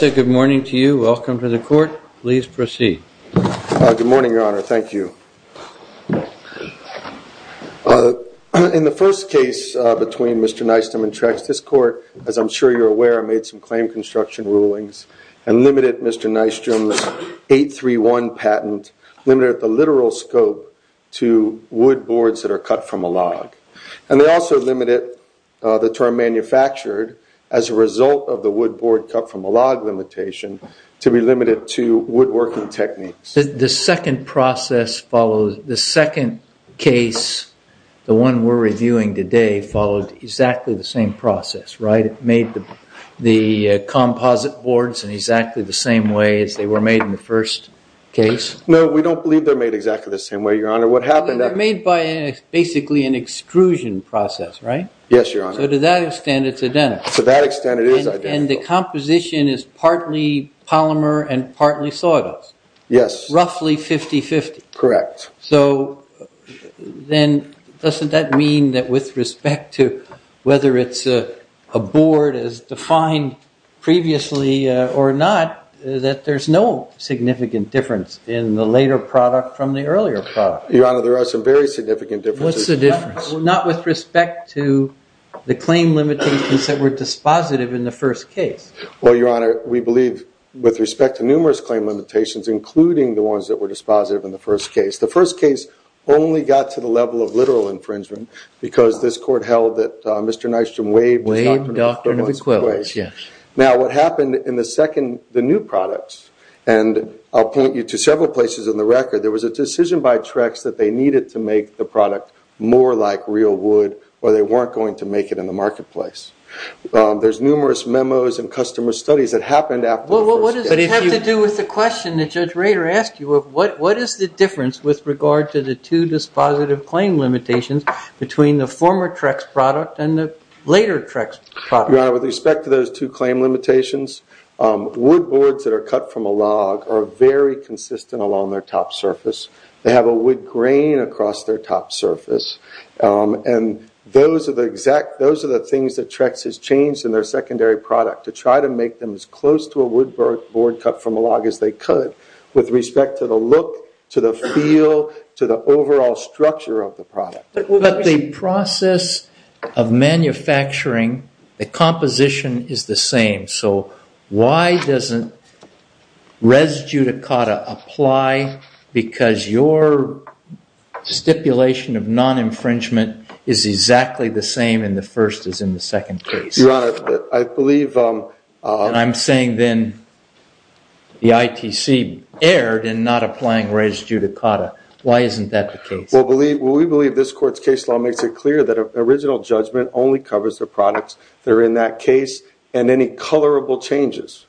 Good morning, Your Honor. Thank you. In the first case between Mr. Nystrom and Trex, this claim construction rulings and limited Mr. Nystrom's 831 patent, limited at the literal scope to wood boards that are cut from a log. And they also limited the term manufactured as a result of the wood board cut from a log limitation to be limited to woodworking techniques. The second process followed, the second case, the one we're reviewing today, followed exactly the same process, right? It made the composite boards in exactly the same way as they were made in the first case? No, we don't believe they're made exactly the same way, Your Honor. What happened... They're made by basically an extrusion process, right? Yes, Your Honor. So to that extent, it's identical. To that extent, it is identical. And the composition is partly polymer and partly sawdust? Yes. Roughly 50-50? Correct. So then doesn't that mean that with respect to whether it's a board as defined previously or not, that there's no significant difference in the later product from the earlier product? Your Honor, there are some very significant differences. What's the difference? Not with respect to the claim limitations that were dispositive in the first case. Well, Your Honor, we believe with respect to numerous claim limitations, including the ones that were dispositive in the first case. The first case only got to the level of literal infringement because this court held that Mr. Nystrom waived... Waived doctrine of equivalence, yes. Now, what happened in the second, the new products, and I'll point you to several places in the record, there was a decision by Trex that they needed to make the product more like real wood or they weren't going to make it in the marketplace. There's numerous memos and customer studies that happened after the first case. Well, what does it have to do with the question that Judge Rader asked you of what is the difference with regard to the two dispositive claim limitations between the former Trex product and the later Trex product? Your Honor, with respect to those two claim limitations, wood boards that are cut from a log are very consistent along their top surface. They have a wood grain across their top surface and those are the exact, those are the things that Trex has changed in their secondary product to try to make them as close to a wood board cut from a log as they could with respect to the look, to the feel, to the overall structure of the product. But the process of manufacturing, the composition is the same, so why doesn't res judicata apply because your stipulation of non-infringement is exactly the same in the first as in the second case? Your Honor, I believe... And I'm saying then the ITC erred in not applying res judicata. Why isn't that the case? Well, we believe this court's case law makes it clear that original judgment only covers the products that are in that case and any colorable changes.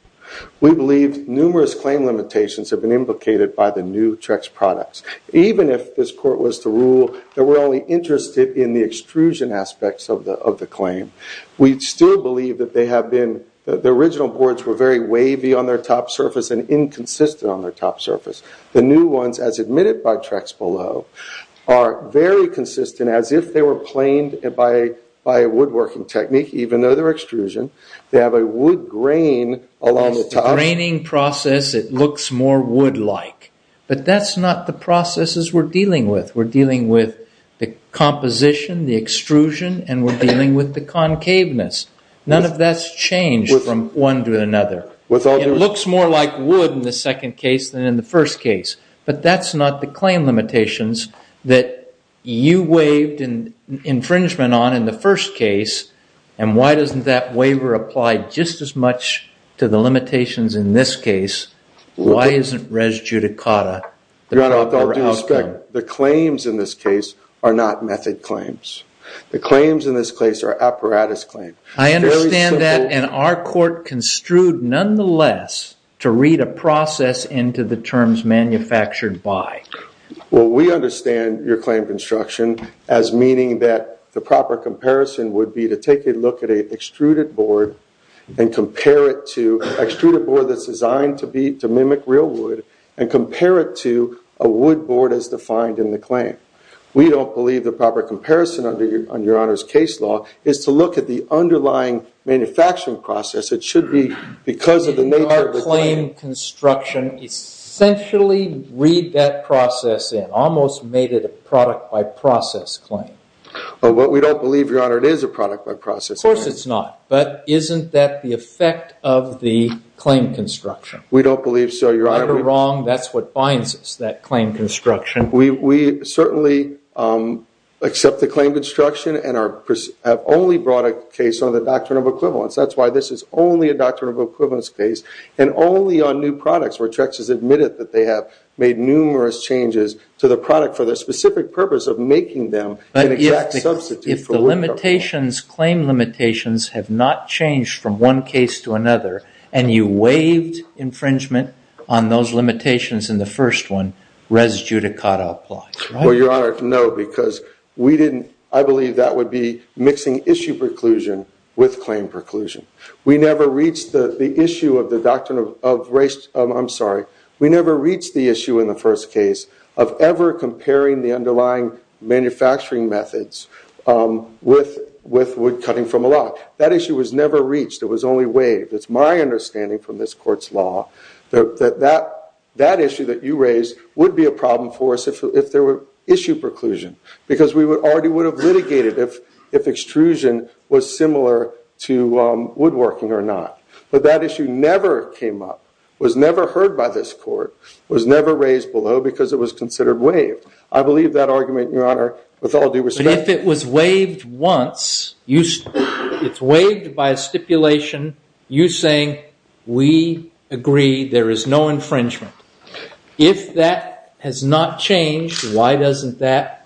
We believe numerous claim limitations have been implicated by the new Trex products. Even if this court was to rule that we're only interested in the extrusion aspects of the claim, we still believe that they have been, the original boards were very wavy on their top surface and inconsistent on their top surface. The new ones, as admitted by Trex below, are very consistent as if they were planed by a woodworking technique, even though they're extrusion. They have a wood grain along the top. Yes, the graining process, it looks more wood-like. But that's not the processes we're dealing with. We're dealing with the composition, the extrusion, and we're dealing with the concaveness. None of that's changed from one to another. It looks more like wood in the second case than in the first case. But that's not the claim limitations that you waived infringement on in the first case. And why doesn't that waiver apply just as much to the limitations in this case? Why isn't res judicata? Your Honor, with all due respect, the claims in this case are not method claims. The claims in this case are apparatus claims. I understand that, and our court construed, nonetheless, to read a process into the terms manufactured by. Well, we understand your claim construction as meaning that the proper comparison would be to take a look at an extruded board and compare it to an extruded board that's designed to mimic real wood and compare it to a wood board as defined in the claim. We don't believe the proper comparison under your Honor's case law is to look at the underlying manufacturing process. It should be because of the nature of the claim. In our claim construction, essentially read that process in. Almost made it a product by process claim. Well, we don't believe, Your Honor, it is a product by process claim. Of course it's not. But isn't that the effect of the claim construction? We don't believe so, Your Honor. Right or wrong, that's what binds us, that claim construction. We certainly accept the claim construction and have only brought a case on the doctrine of equivalence. That's why this is only a doctrine of equivalence case and only on new products where Trex has admitted that they have made numerous changes to the product for the specific purpose of making them an exact substitute for wood. If the limitations, claim limitations, have not changed from one case to another and you waived infringement on those limitations in the first one, res judicata applies. Well, Your Honor, no, because we didn't. I believe that would be mixing issue preclusion with claim preclusion. We never reached the issue of the doctrine of race. I'm sorry. We never reached the issue in the first case of ever comparing the underlying manufacturing methods with wood cutting from a log. That issue was never reached. It was only waived. It's my understanding from this court's law that that issue that you raised would be a problem for us if there were issue preclusion because we already would have litigated if extrusion was similar to woodworking or not. But that issue never came up, was never heard by this court, was never raised below because it was considered waived. I believe that argument, Your Honor, with all due respect. But if it was waived once, it's waived by a stipulation, you saying, we agree there is no infringement. If that has not changed, why doesn't that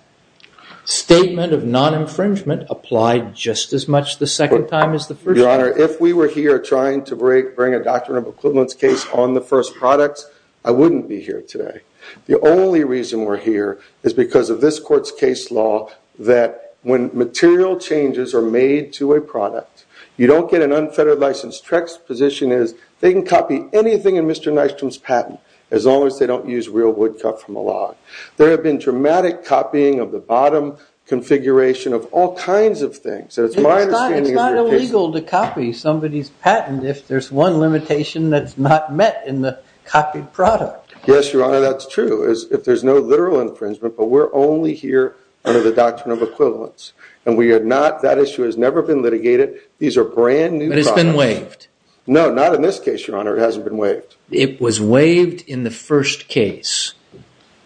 statement of non-infringement apply just as much the second time as the first time? Your Honor, if we were here trying to bring a doctrine of equivalence case on the first products, I wouldn't be here today. The only reason we're here is because of this court's case law that when material changes are made to a product, you don't get an unfettered license. TREC's position is they can copy anything in Mr. Nystrom's patent as long as they don't use real wood cut from a log. There have been dramatic copying of the bottom configuration of all kinds of things. It's not illegal to copy somebody's patent if there's one limitation that's not met in the copied product. Yes, Your Honor, that's true. If there's no literal infringement, but we're only here under the doctrine of equivalence. And that issue has never been litigated. These are brand new products. But it's been waived. No, not in this case, Your Honor. It hasn't been waived. It was waived in the first case.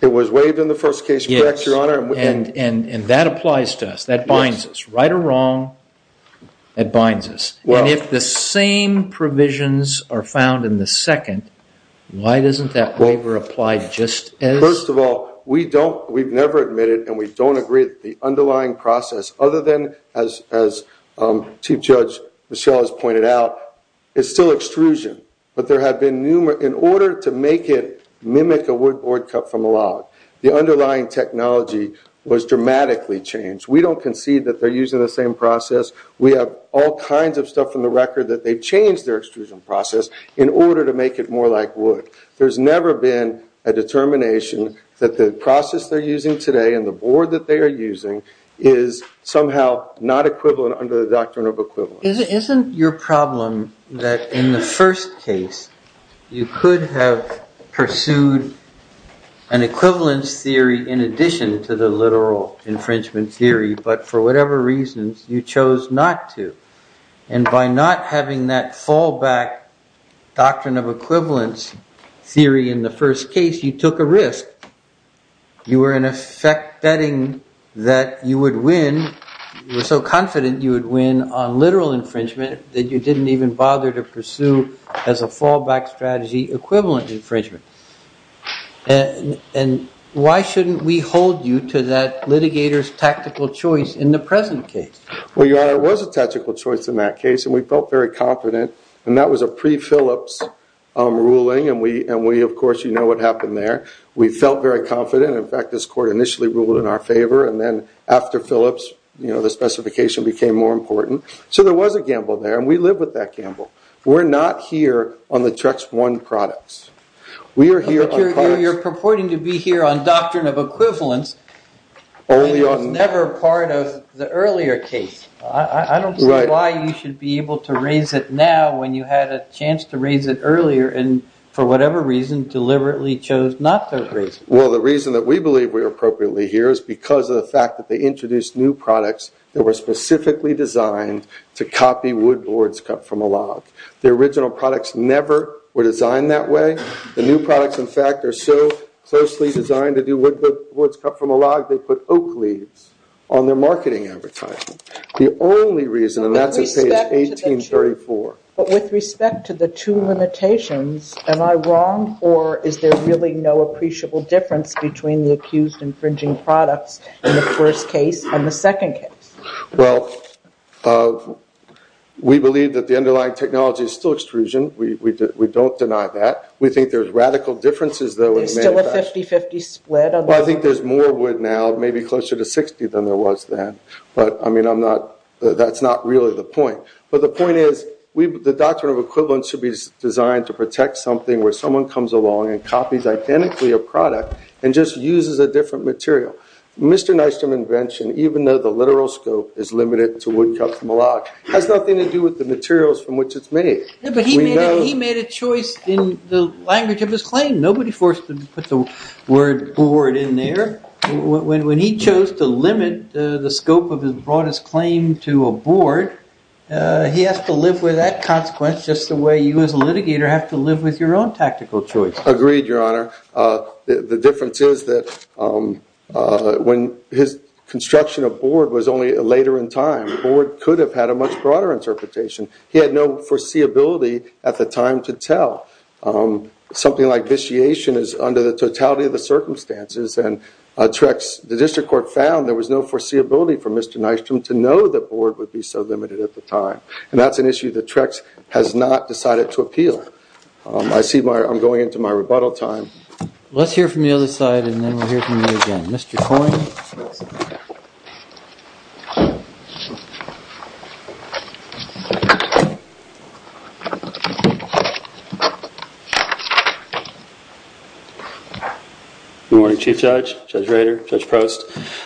It was waived in the first case, correct, Your Honor. And that applies to us. That binds us. Right or wrong, that binds us. And if the same provisions are found in the second, why doesn't that waiver apply just as? First of all, we've never admitted and we don't agree that the underlying process, other than as Chief Judge Michelle has pointed out, is still extrusion. But in order to make it mimic a wood board cut from a log, the underlying technology was dramatically changed. We don't concede that they're using the same process. We have all kinds of stuff from the record that they've changed their extrusion process in order to make it more like wood. There's never been a determination that the process they're using today and the board that they are using is somehow not equivalent under the doctrine of equivalent. Isn't your problem that in the first case, you could have pursued an equivalence theory in addition to the literal infringement theory, but for whatever reasons, you chose not to. And by not having that fallback doctrine of equivalence theory in the first case, you took a risk. You were in effect betting that you would win. You were so confident you would win on literal infringement that you didn't even bother to pursue as a fallback strategy equivalent infringement. And why shouldn't we hold you to that litigator's tactical choice in the present case? Well, Your Honor, it was a tactical choice in that case and we felt very confident. And that was a pre-Phillips ruling and we, of course, you know what happened there. We felt very confident. In fact, this court initially ruled in our favor and then after Phillips, the specification became more important. So there was a gamble there and we live with that gamble. We're not here on the Trex One products. We are here on products... But you're purporting to be here on doctrine of equivalence and it was never part of the earlier case. I don't see why you should be able to raise it now when you had a chance to raise it earlier and for whatever reason deliberately chose not to raise it. Well, the reason that we believe we're appropriately here is because of the fact that they introduced new products that were specifically designed to copy wood boards cut from a log. The original products never were designed that way. The new products, in fact, are so closely designed to do wood boards cut from a log they put oak leaves on their marketing advertising. The only reason, and that's at page 1834. But with respect to the two limitations, am I wrong or is there really no appreciable difference between the accused infringing products in the first case and the second case? Well, we believe that the underlying technology is still extrusion. We don't deny that. We think there's radical differences though... Is it still a 50-50 split? Well, I think there's more wood now, maybe closer to 60 than there was then. But, I mean, that's not really the point. But the point is the doctrine of equivalence should be designed to protect something where someone comes along and copies identically a product and just uses a different material. Mr. Nystrom's invention, even though the literal scope is limited to wood cut from a log, has nothing to do with the materials from which it's made. But he made a choice in the language of his claim. Nobody forced him to put the word board in there. When he chose to limit the scope of his broadest claim to a board, he has to live with that consequence just the way you as a litigator have to live with your own tactical choice. Agreed, Your Honor. The difference is that when his construction of board was only later in time, board could have had a much broader interpretation. He had no foreseeability at the time to tell. Something like vitiation is under the totality of the circumstances. And Trex, the district court found there was no foreseeability for Mr. Nystrom to know the board would be so limited at the time. And that's an issue that Trex has not decided to appeal. I see I'm going into my rebuttal time. Let's hear from the other side and then we'll hear from you again. Mr. Coyne. Good morning, Chief Judge, Judge Rader, Judge Prost.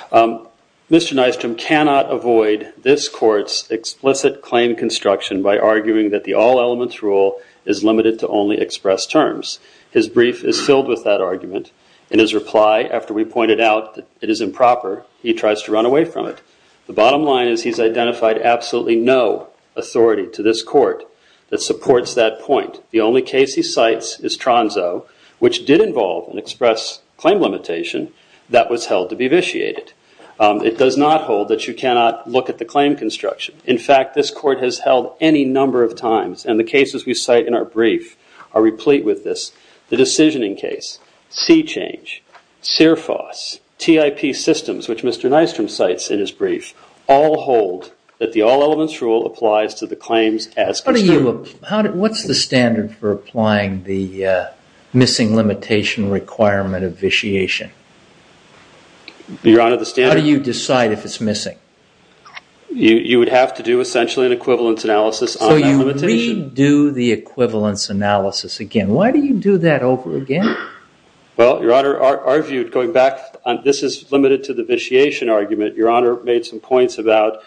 Mr. Nystrom cannot avoid this court's explicit claim construction by arguing that the all-elements rule is limited to only express terms. His brief is filled with that argument. In his reply, after we pointed out that it is improper, he tries to run away from it. The bottom line is he's identified absolutely The only case he's identified is the one The only case he cites is Tronzo, which did involve an express claim limitation that was held to be vitiated. It does not hold that you cannot look at the claim construction. In fact, this court has held any number of times and the cases we cite in our brief are replete with this. The decisioning case, C-Change, CIRFOS, TIP systems, which Mr. Nystrom cites in his brief, all hold that the all-elements rule applies to the claims as construed. What's the standard for applying the missing limitation requirement of vitiation? Your Honor, the standard How do you decide if it's missing? You would have to do, essentially, an equivalence analysis on that limitation. So you redo the equivalence analysis again. Why do you do that over again? Well, Your Honor, our view, going back, this is limited to the vitiation argument. Your Honor made some points about,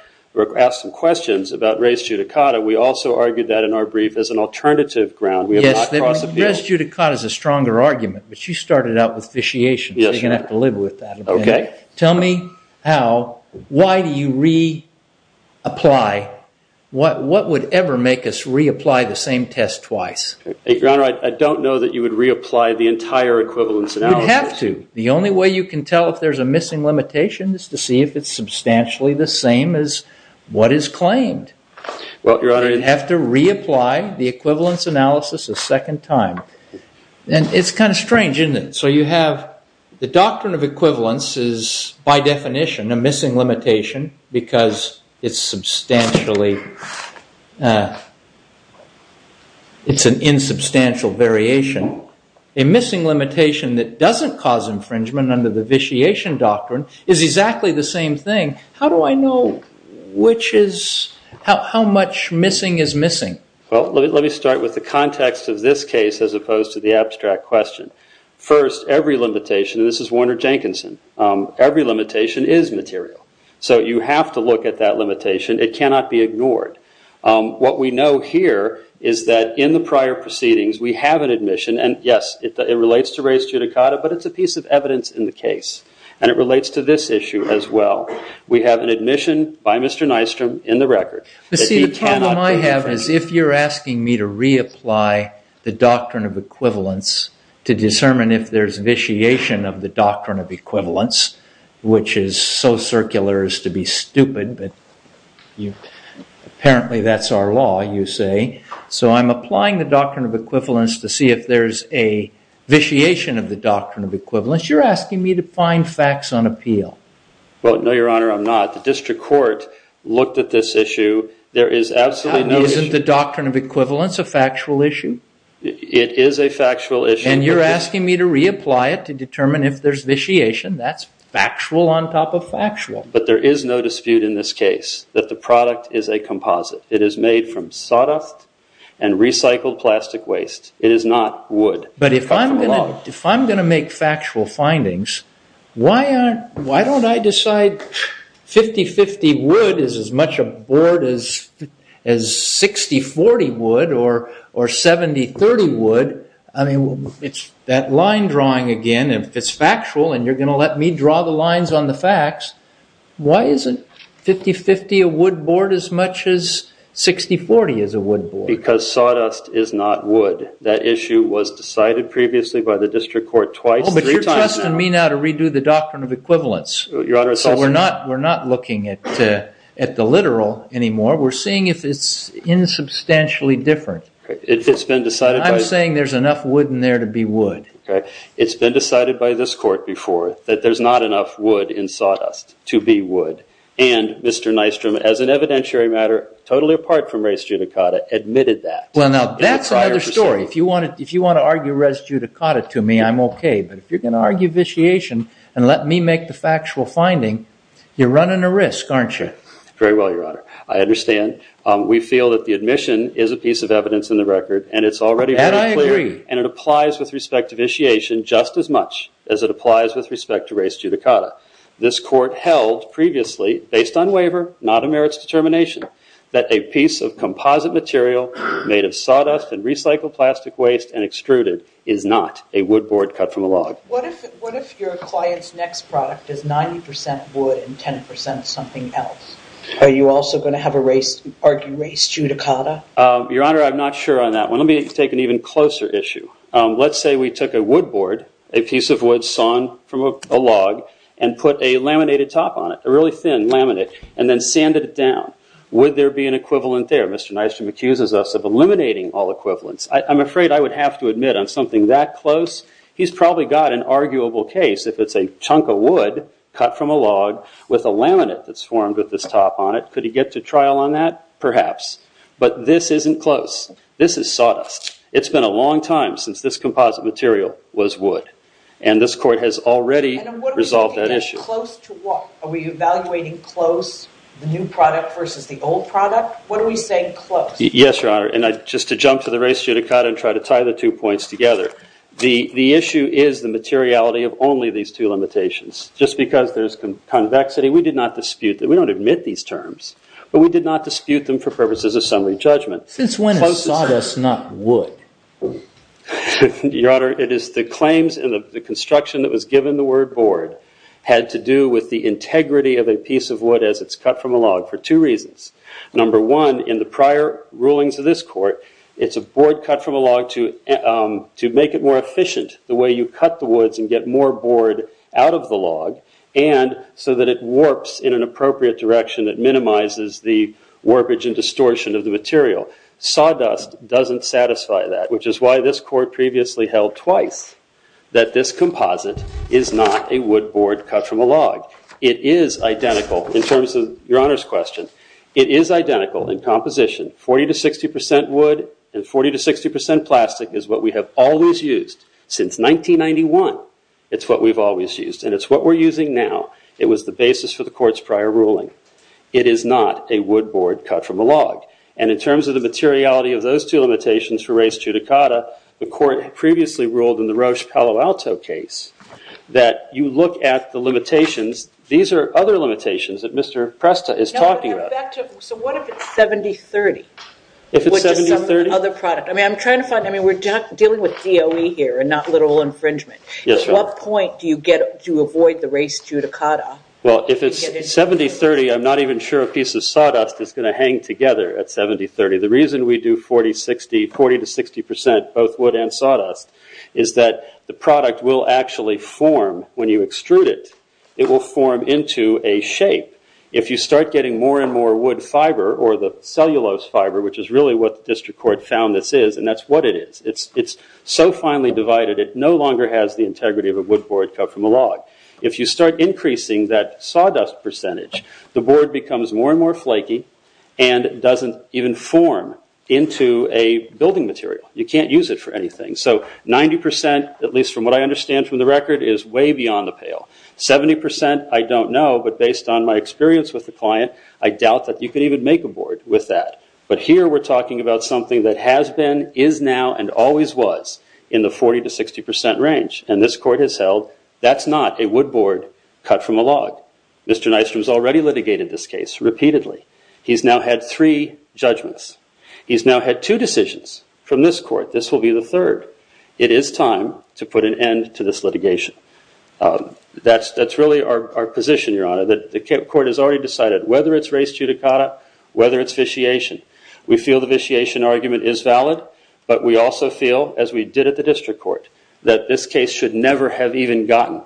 asked some questions about res judicata. We also argued that in our brief as an alternative ground. Yes, res judicata is a stronger argument, but you started out with vitiation. So you're going to have to live with that. Tell me how, why do you reapply? What would ever make us reapply the same test twice? Your Honor, I don't know that you would reapply the entire equivalence analysis. You would have to. The only way you can tell if there's a missing limitation is to see if it's substantially the same as what is claimed. Well, Your Honor. You would have to reapply the equivalence analysis a second time. And it's kind of strange, isn't it? So you have the doctrine of equivalence is, by definition, a missing limitation because it's substantially, it's an insubstantial variation. A missing limitation that doesn't cause infringement under the vitiation doctrine is exactly the same thing. How do I know which is, how much missing is missing? Well, let me start with the context of this case as opposed to the abstract question. First, every limitation, and this is Warner Jenkinson, every limitation is material. So you have to look at that limitation. It cannot be ignored. What we know here is that in the prior proceedings we have an admission. And yes, it relates to race judicata, but it's a piece of evidence in the case. And it relates to this issue as well. We have an admission by Mr. Nystrom in the record. But see, the problem I have is if you're asking me to reapply the doctrine of equivalence to determine if there's vitiation of the doctrine of equivalence, which is so circular as to be stupid, but apparently that's our law, you say. So I'm applying the doctrine of equivalence to see if there's a vitiation of the doctrine of equivalence. You're asking me to find facts on appeal. Well, no, Your Honor, I'm not. The district court looked at this issue. There is absolutely no issue. Isn't the doctrine of equivalence a factual issue? It is a factual issue. And you're asking me to reapply it to determine if there's vitiation. That's factual on top of factual. But there is no dispute in this case that the product is a composite. It is made from sawdust and recycled plastic waste. It is not wood. But if I'm going to make factual findings, why don't I decide 50-50 wood is as much a board as 60-40 wood or 70-30 wood? It's that line drawing again. If it's factual and you're going to let me draw the lines on the facts, why isn't 50-50 a wood board as much as 60-40 is a wood board? Because sawdust is not wood. That issue was decided previously by the district court twice, three times now. But you're trusting me now to redo the doctrine of equivalence. So we're not looking at the literal anymore. We're seeing if it's insubstantially different. I'm saying there's enough wood in there to be wood. It's been decided by this court before that there's not enough wood in sawdust to be wood. And Mr. Nystrom, as an evidentiary matter totally apart from race judicata, admitted that. Well, now, that's another story. If you want to argue race judicata to me, I'm OK. But if you're going to argue vitiation and let me make the factual finding, you're running a risk, aren't you? Very well, Your Honor. I understand. We feel that the admission is a piece of evidence in the record. And it's already very clear. And I agree. And it applies with respect to vitiation just as much as it applies with respect to race judicata. This court held previously, based on waiver, not a merits determination, that a piece of composite material made of sawdust and recycled plastic waste and extruded is not a wood board cut from a log. What if your client's next product is 90% wood and 10% something else? Are you also going to argue race judicata? Your Honor, I'm not sure on that one. Let me take an even closer issue. Let's say we took a wood board, a piece of wood sawn from a log, and put a laminated top on it, a really thin laminate, and then sanded it down. Would there be an equivalent there? Mr. Nystrom accuses us of eliminating all equivalents. I'm afraid I would have to admit on something that close, he's probably got an arguable case if it's a chunk of wood cut from a log with a laminate that's formed with this top on it. Could he get to trial on that? Perhaps. But this isn't close. This is sawdust. It's been a long time since this composite material was wood. And this court has already resolved that issue. Are we evaluating close the new product versus the old product? What are we saying close? Yes, Your Honor. And just to jump to the res judicata and try to tie the two points together, the issue is the materiality of only these two limitations. Just because there's convexity, we did not dispute that. We don't admit these terms. But we did not dispute them for purposes of summary judgment. Since when is sawdust not wood? Your Honor, it is the claims and the construction that was given the word board had to do with the integrity of a piece of wood as it's cut from a log for two reasons. Number one, in the prior rulings of this court, it's a board cut from a log to make it more efficient the way you cut the woods and get more board out of the log and so that it warps in an appropriate direction that minimizes the warpage and distortion of the material. Sawdust doesn't satisfy that, which is why this court previously held twice that this composite is not a wood board cut from a log. It is identical in terms of Your Honor's question. It is identical in composition. 40 to 60% wood and 40 to 60% plastic is what we have always used since 1991. It's what we've always used and it's what we're using now. It was the basis for the court's prior ruling. It is not a wood board cut from a log. And in terms of the materiality of those two limitations for res judicata, the court previously ruled in the Roche Palo Alto case that you look at the limitations. These are other limitations that Mr. Presta is talking about. So what if it's 70-30? If it's 70-30? I mean we're dealing with DOE here and not literal infringement. At what point do you avoid the res judicata? Well if it's 70-30 I'm not even sure a piece of sawdust is going to hang together at 70-30. The reason we do 40 to 60% both wood and sawdust is that the product will actually form when you extrude it. It will form into a shape. If you start getting more and more wood fiber or the cellulose fiber which is really what the district court found this is and that's what it is. It's so finely divided it no longer has the integrity of a wood board cut from a log. If you start increasing that sawdust percentage the board becomes more and more flaky and doesn't even form into a building material. You can't use it for anything. So 90% at least from what I understand from the record is way beyond the pale. 70% I don't know but based on my experience with the client I doubt that you can even make a board with that. But here we're talking about something that has been is now and always was in the 40-60% range and this court has held that's not a wood board cut from a log. Mr. Nystrom has already litigated this case repeatedly. He's now had three judgments. He's now had two decisions from this court. This will be the third. It is time to put an end to this litigation. That's really our position, Your Honor. The court has already decided whether it's race judicata whether it's vitiation. We feel the vitiation argument is valid but we also feel as we did at the district court that this case should never have even gotten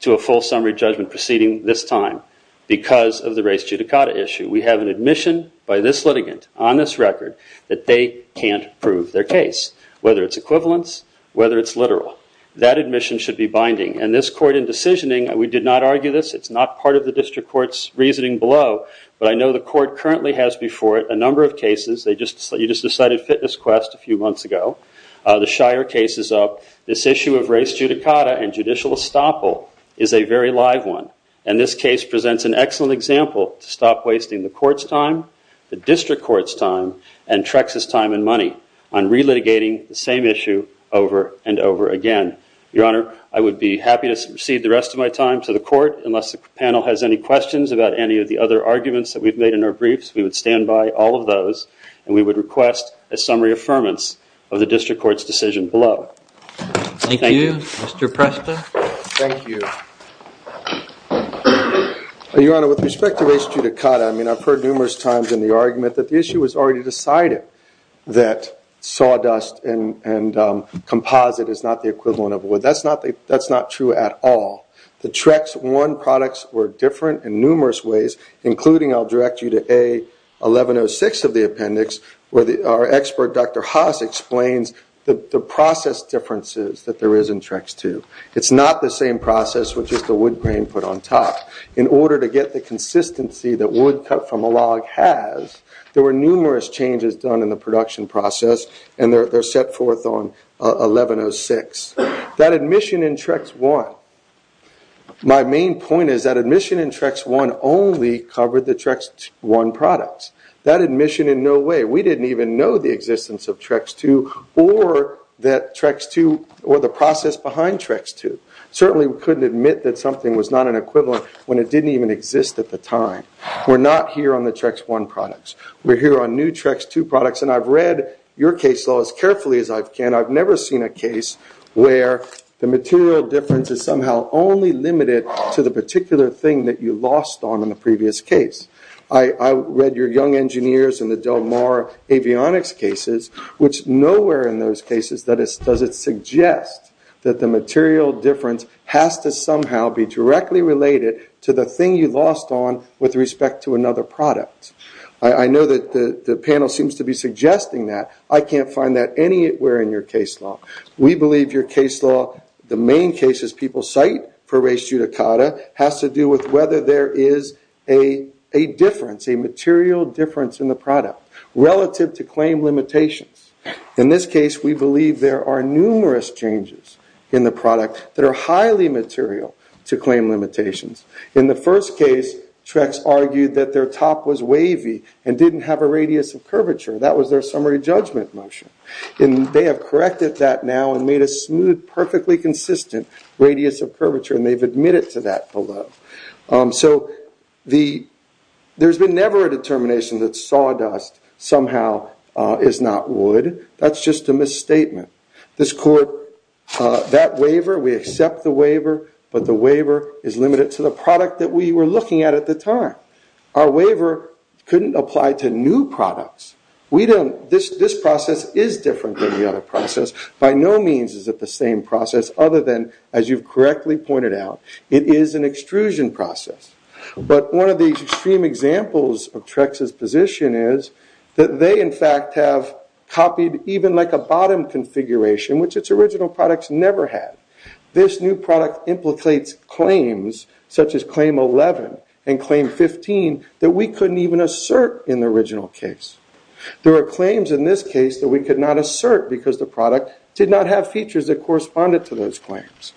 to a full summary judgment proceeding this time because of the race judicata issue. We have an admission by this litigant on this record that they can't prove their case whether it's equivalence whether it's literal. That admission should be binding and this court in decisioning we did not argue this. It's not part of the district court's reasoning below but I know the court currently has before it a number of cases. You just decided fitness quest a few months ago. The Shire case is up. This issue of race judicata and judicial estoppel is a very live one and this case presents an excellent example to stop wasting the court's time, the district court's time and Trexa's time and money on re-litigating the same issue over and over again. Your Honor, I would be happy to recede the rest of my time to the court unless the panel has any questions about any of the other arguments that we've made in our briefs. We would stand by all of those and we would request a summary affirmance of the district court's decision below. Thank you. Thank you. Mr. Presta. Thank you. Your Honor, with respect to race judicata, I've heard numerous times in the argument that the issue was already decided that sawdust and composite is not the equivalent of wood. That's not true at all. The Trex I products were different in numerous ways including I'll direct you to A1106 of the appendix where our expert Dr. Haas explains the process differences that there is in Trex II. It's not the same process with just the wood grain put on top. In order to get the consistency that wood cut from a log has, there were numerous changes done in the production process and they're set forth on A1106. That admission in Trex I, my main point is that admission in Trex I only covered the Trex I products. That admission in no way. We didn't even know the existence of Trex II or the process behind Trex II. Certainly we couldn't admit that something was not an equivalent when it didn't even exist at the time. We're not here on the Trex I products. We're here on new Trex II products and I've read your case law as carefully as I can. I've never seen a case where the material difference is somehow only limited to the particular thing that you lost on in the previous case. I read your young engineers in the Del Mar Avionics cases, which nowhere in those cases does it suggest that the material difference has to somehow be directly related to the thing you lost on with respect to another product. I know that the panel seems to be suggesting that. I can't find that anywhere in your case law. We believe your case law, the main cases people cite for res judicata, has to do with whether there is a difference, a material difference in the product relative to claim limitations. In this case, we believe there are numerous changes in the product that are highly material to claim limitations. In the first case, Trex argued that their top was wavy and didn't have a radius of curvature. That was their summary judgment motion. They have corrected that now and made a smooth, perfectly consistent radius of curvature and they've admitted to that below. There's been never a determination that sawdust somehow is not wood. That's just a misstatement. That waiver, we accept the waiver, but the waiver is limited to the product that we were looking at at the time. Our waiver couldn't apply to new products. This process is different than the other process. By no means is it the same process other than, as you've correctly pointed out, it is an extrusion process. One of the extreme examples of Trex's position is that they, in fact, have copied even like a bottom configuration, which its original products never had. This new product implicates claims such as claim 11 and claim 15 that we couldn't even assert in the original case. There are claims in this case that we could not assert because the product did not have features that corresponded to those claims.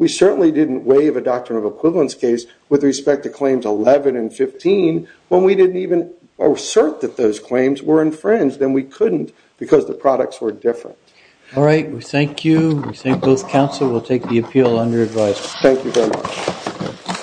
We certainly didn't waive a doctrine of equivalence case with respect to claims 11 and 15 when we didn't even assert that those claims were infringed and we couldn't because the products were different. Alright, we thank you. We thank both counsel. We'll take the appeal on your advice. Thank you very much.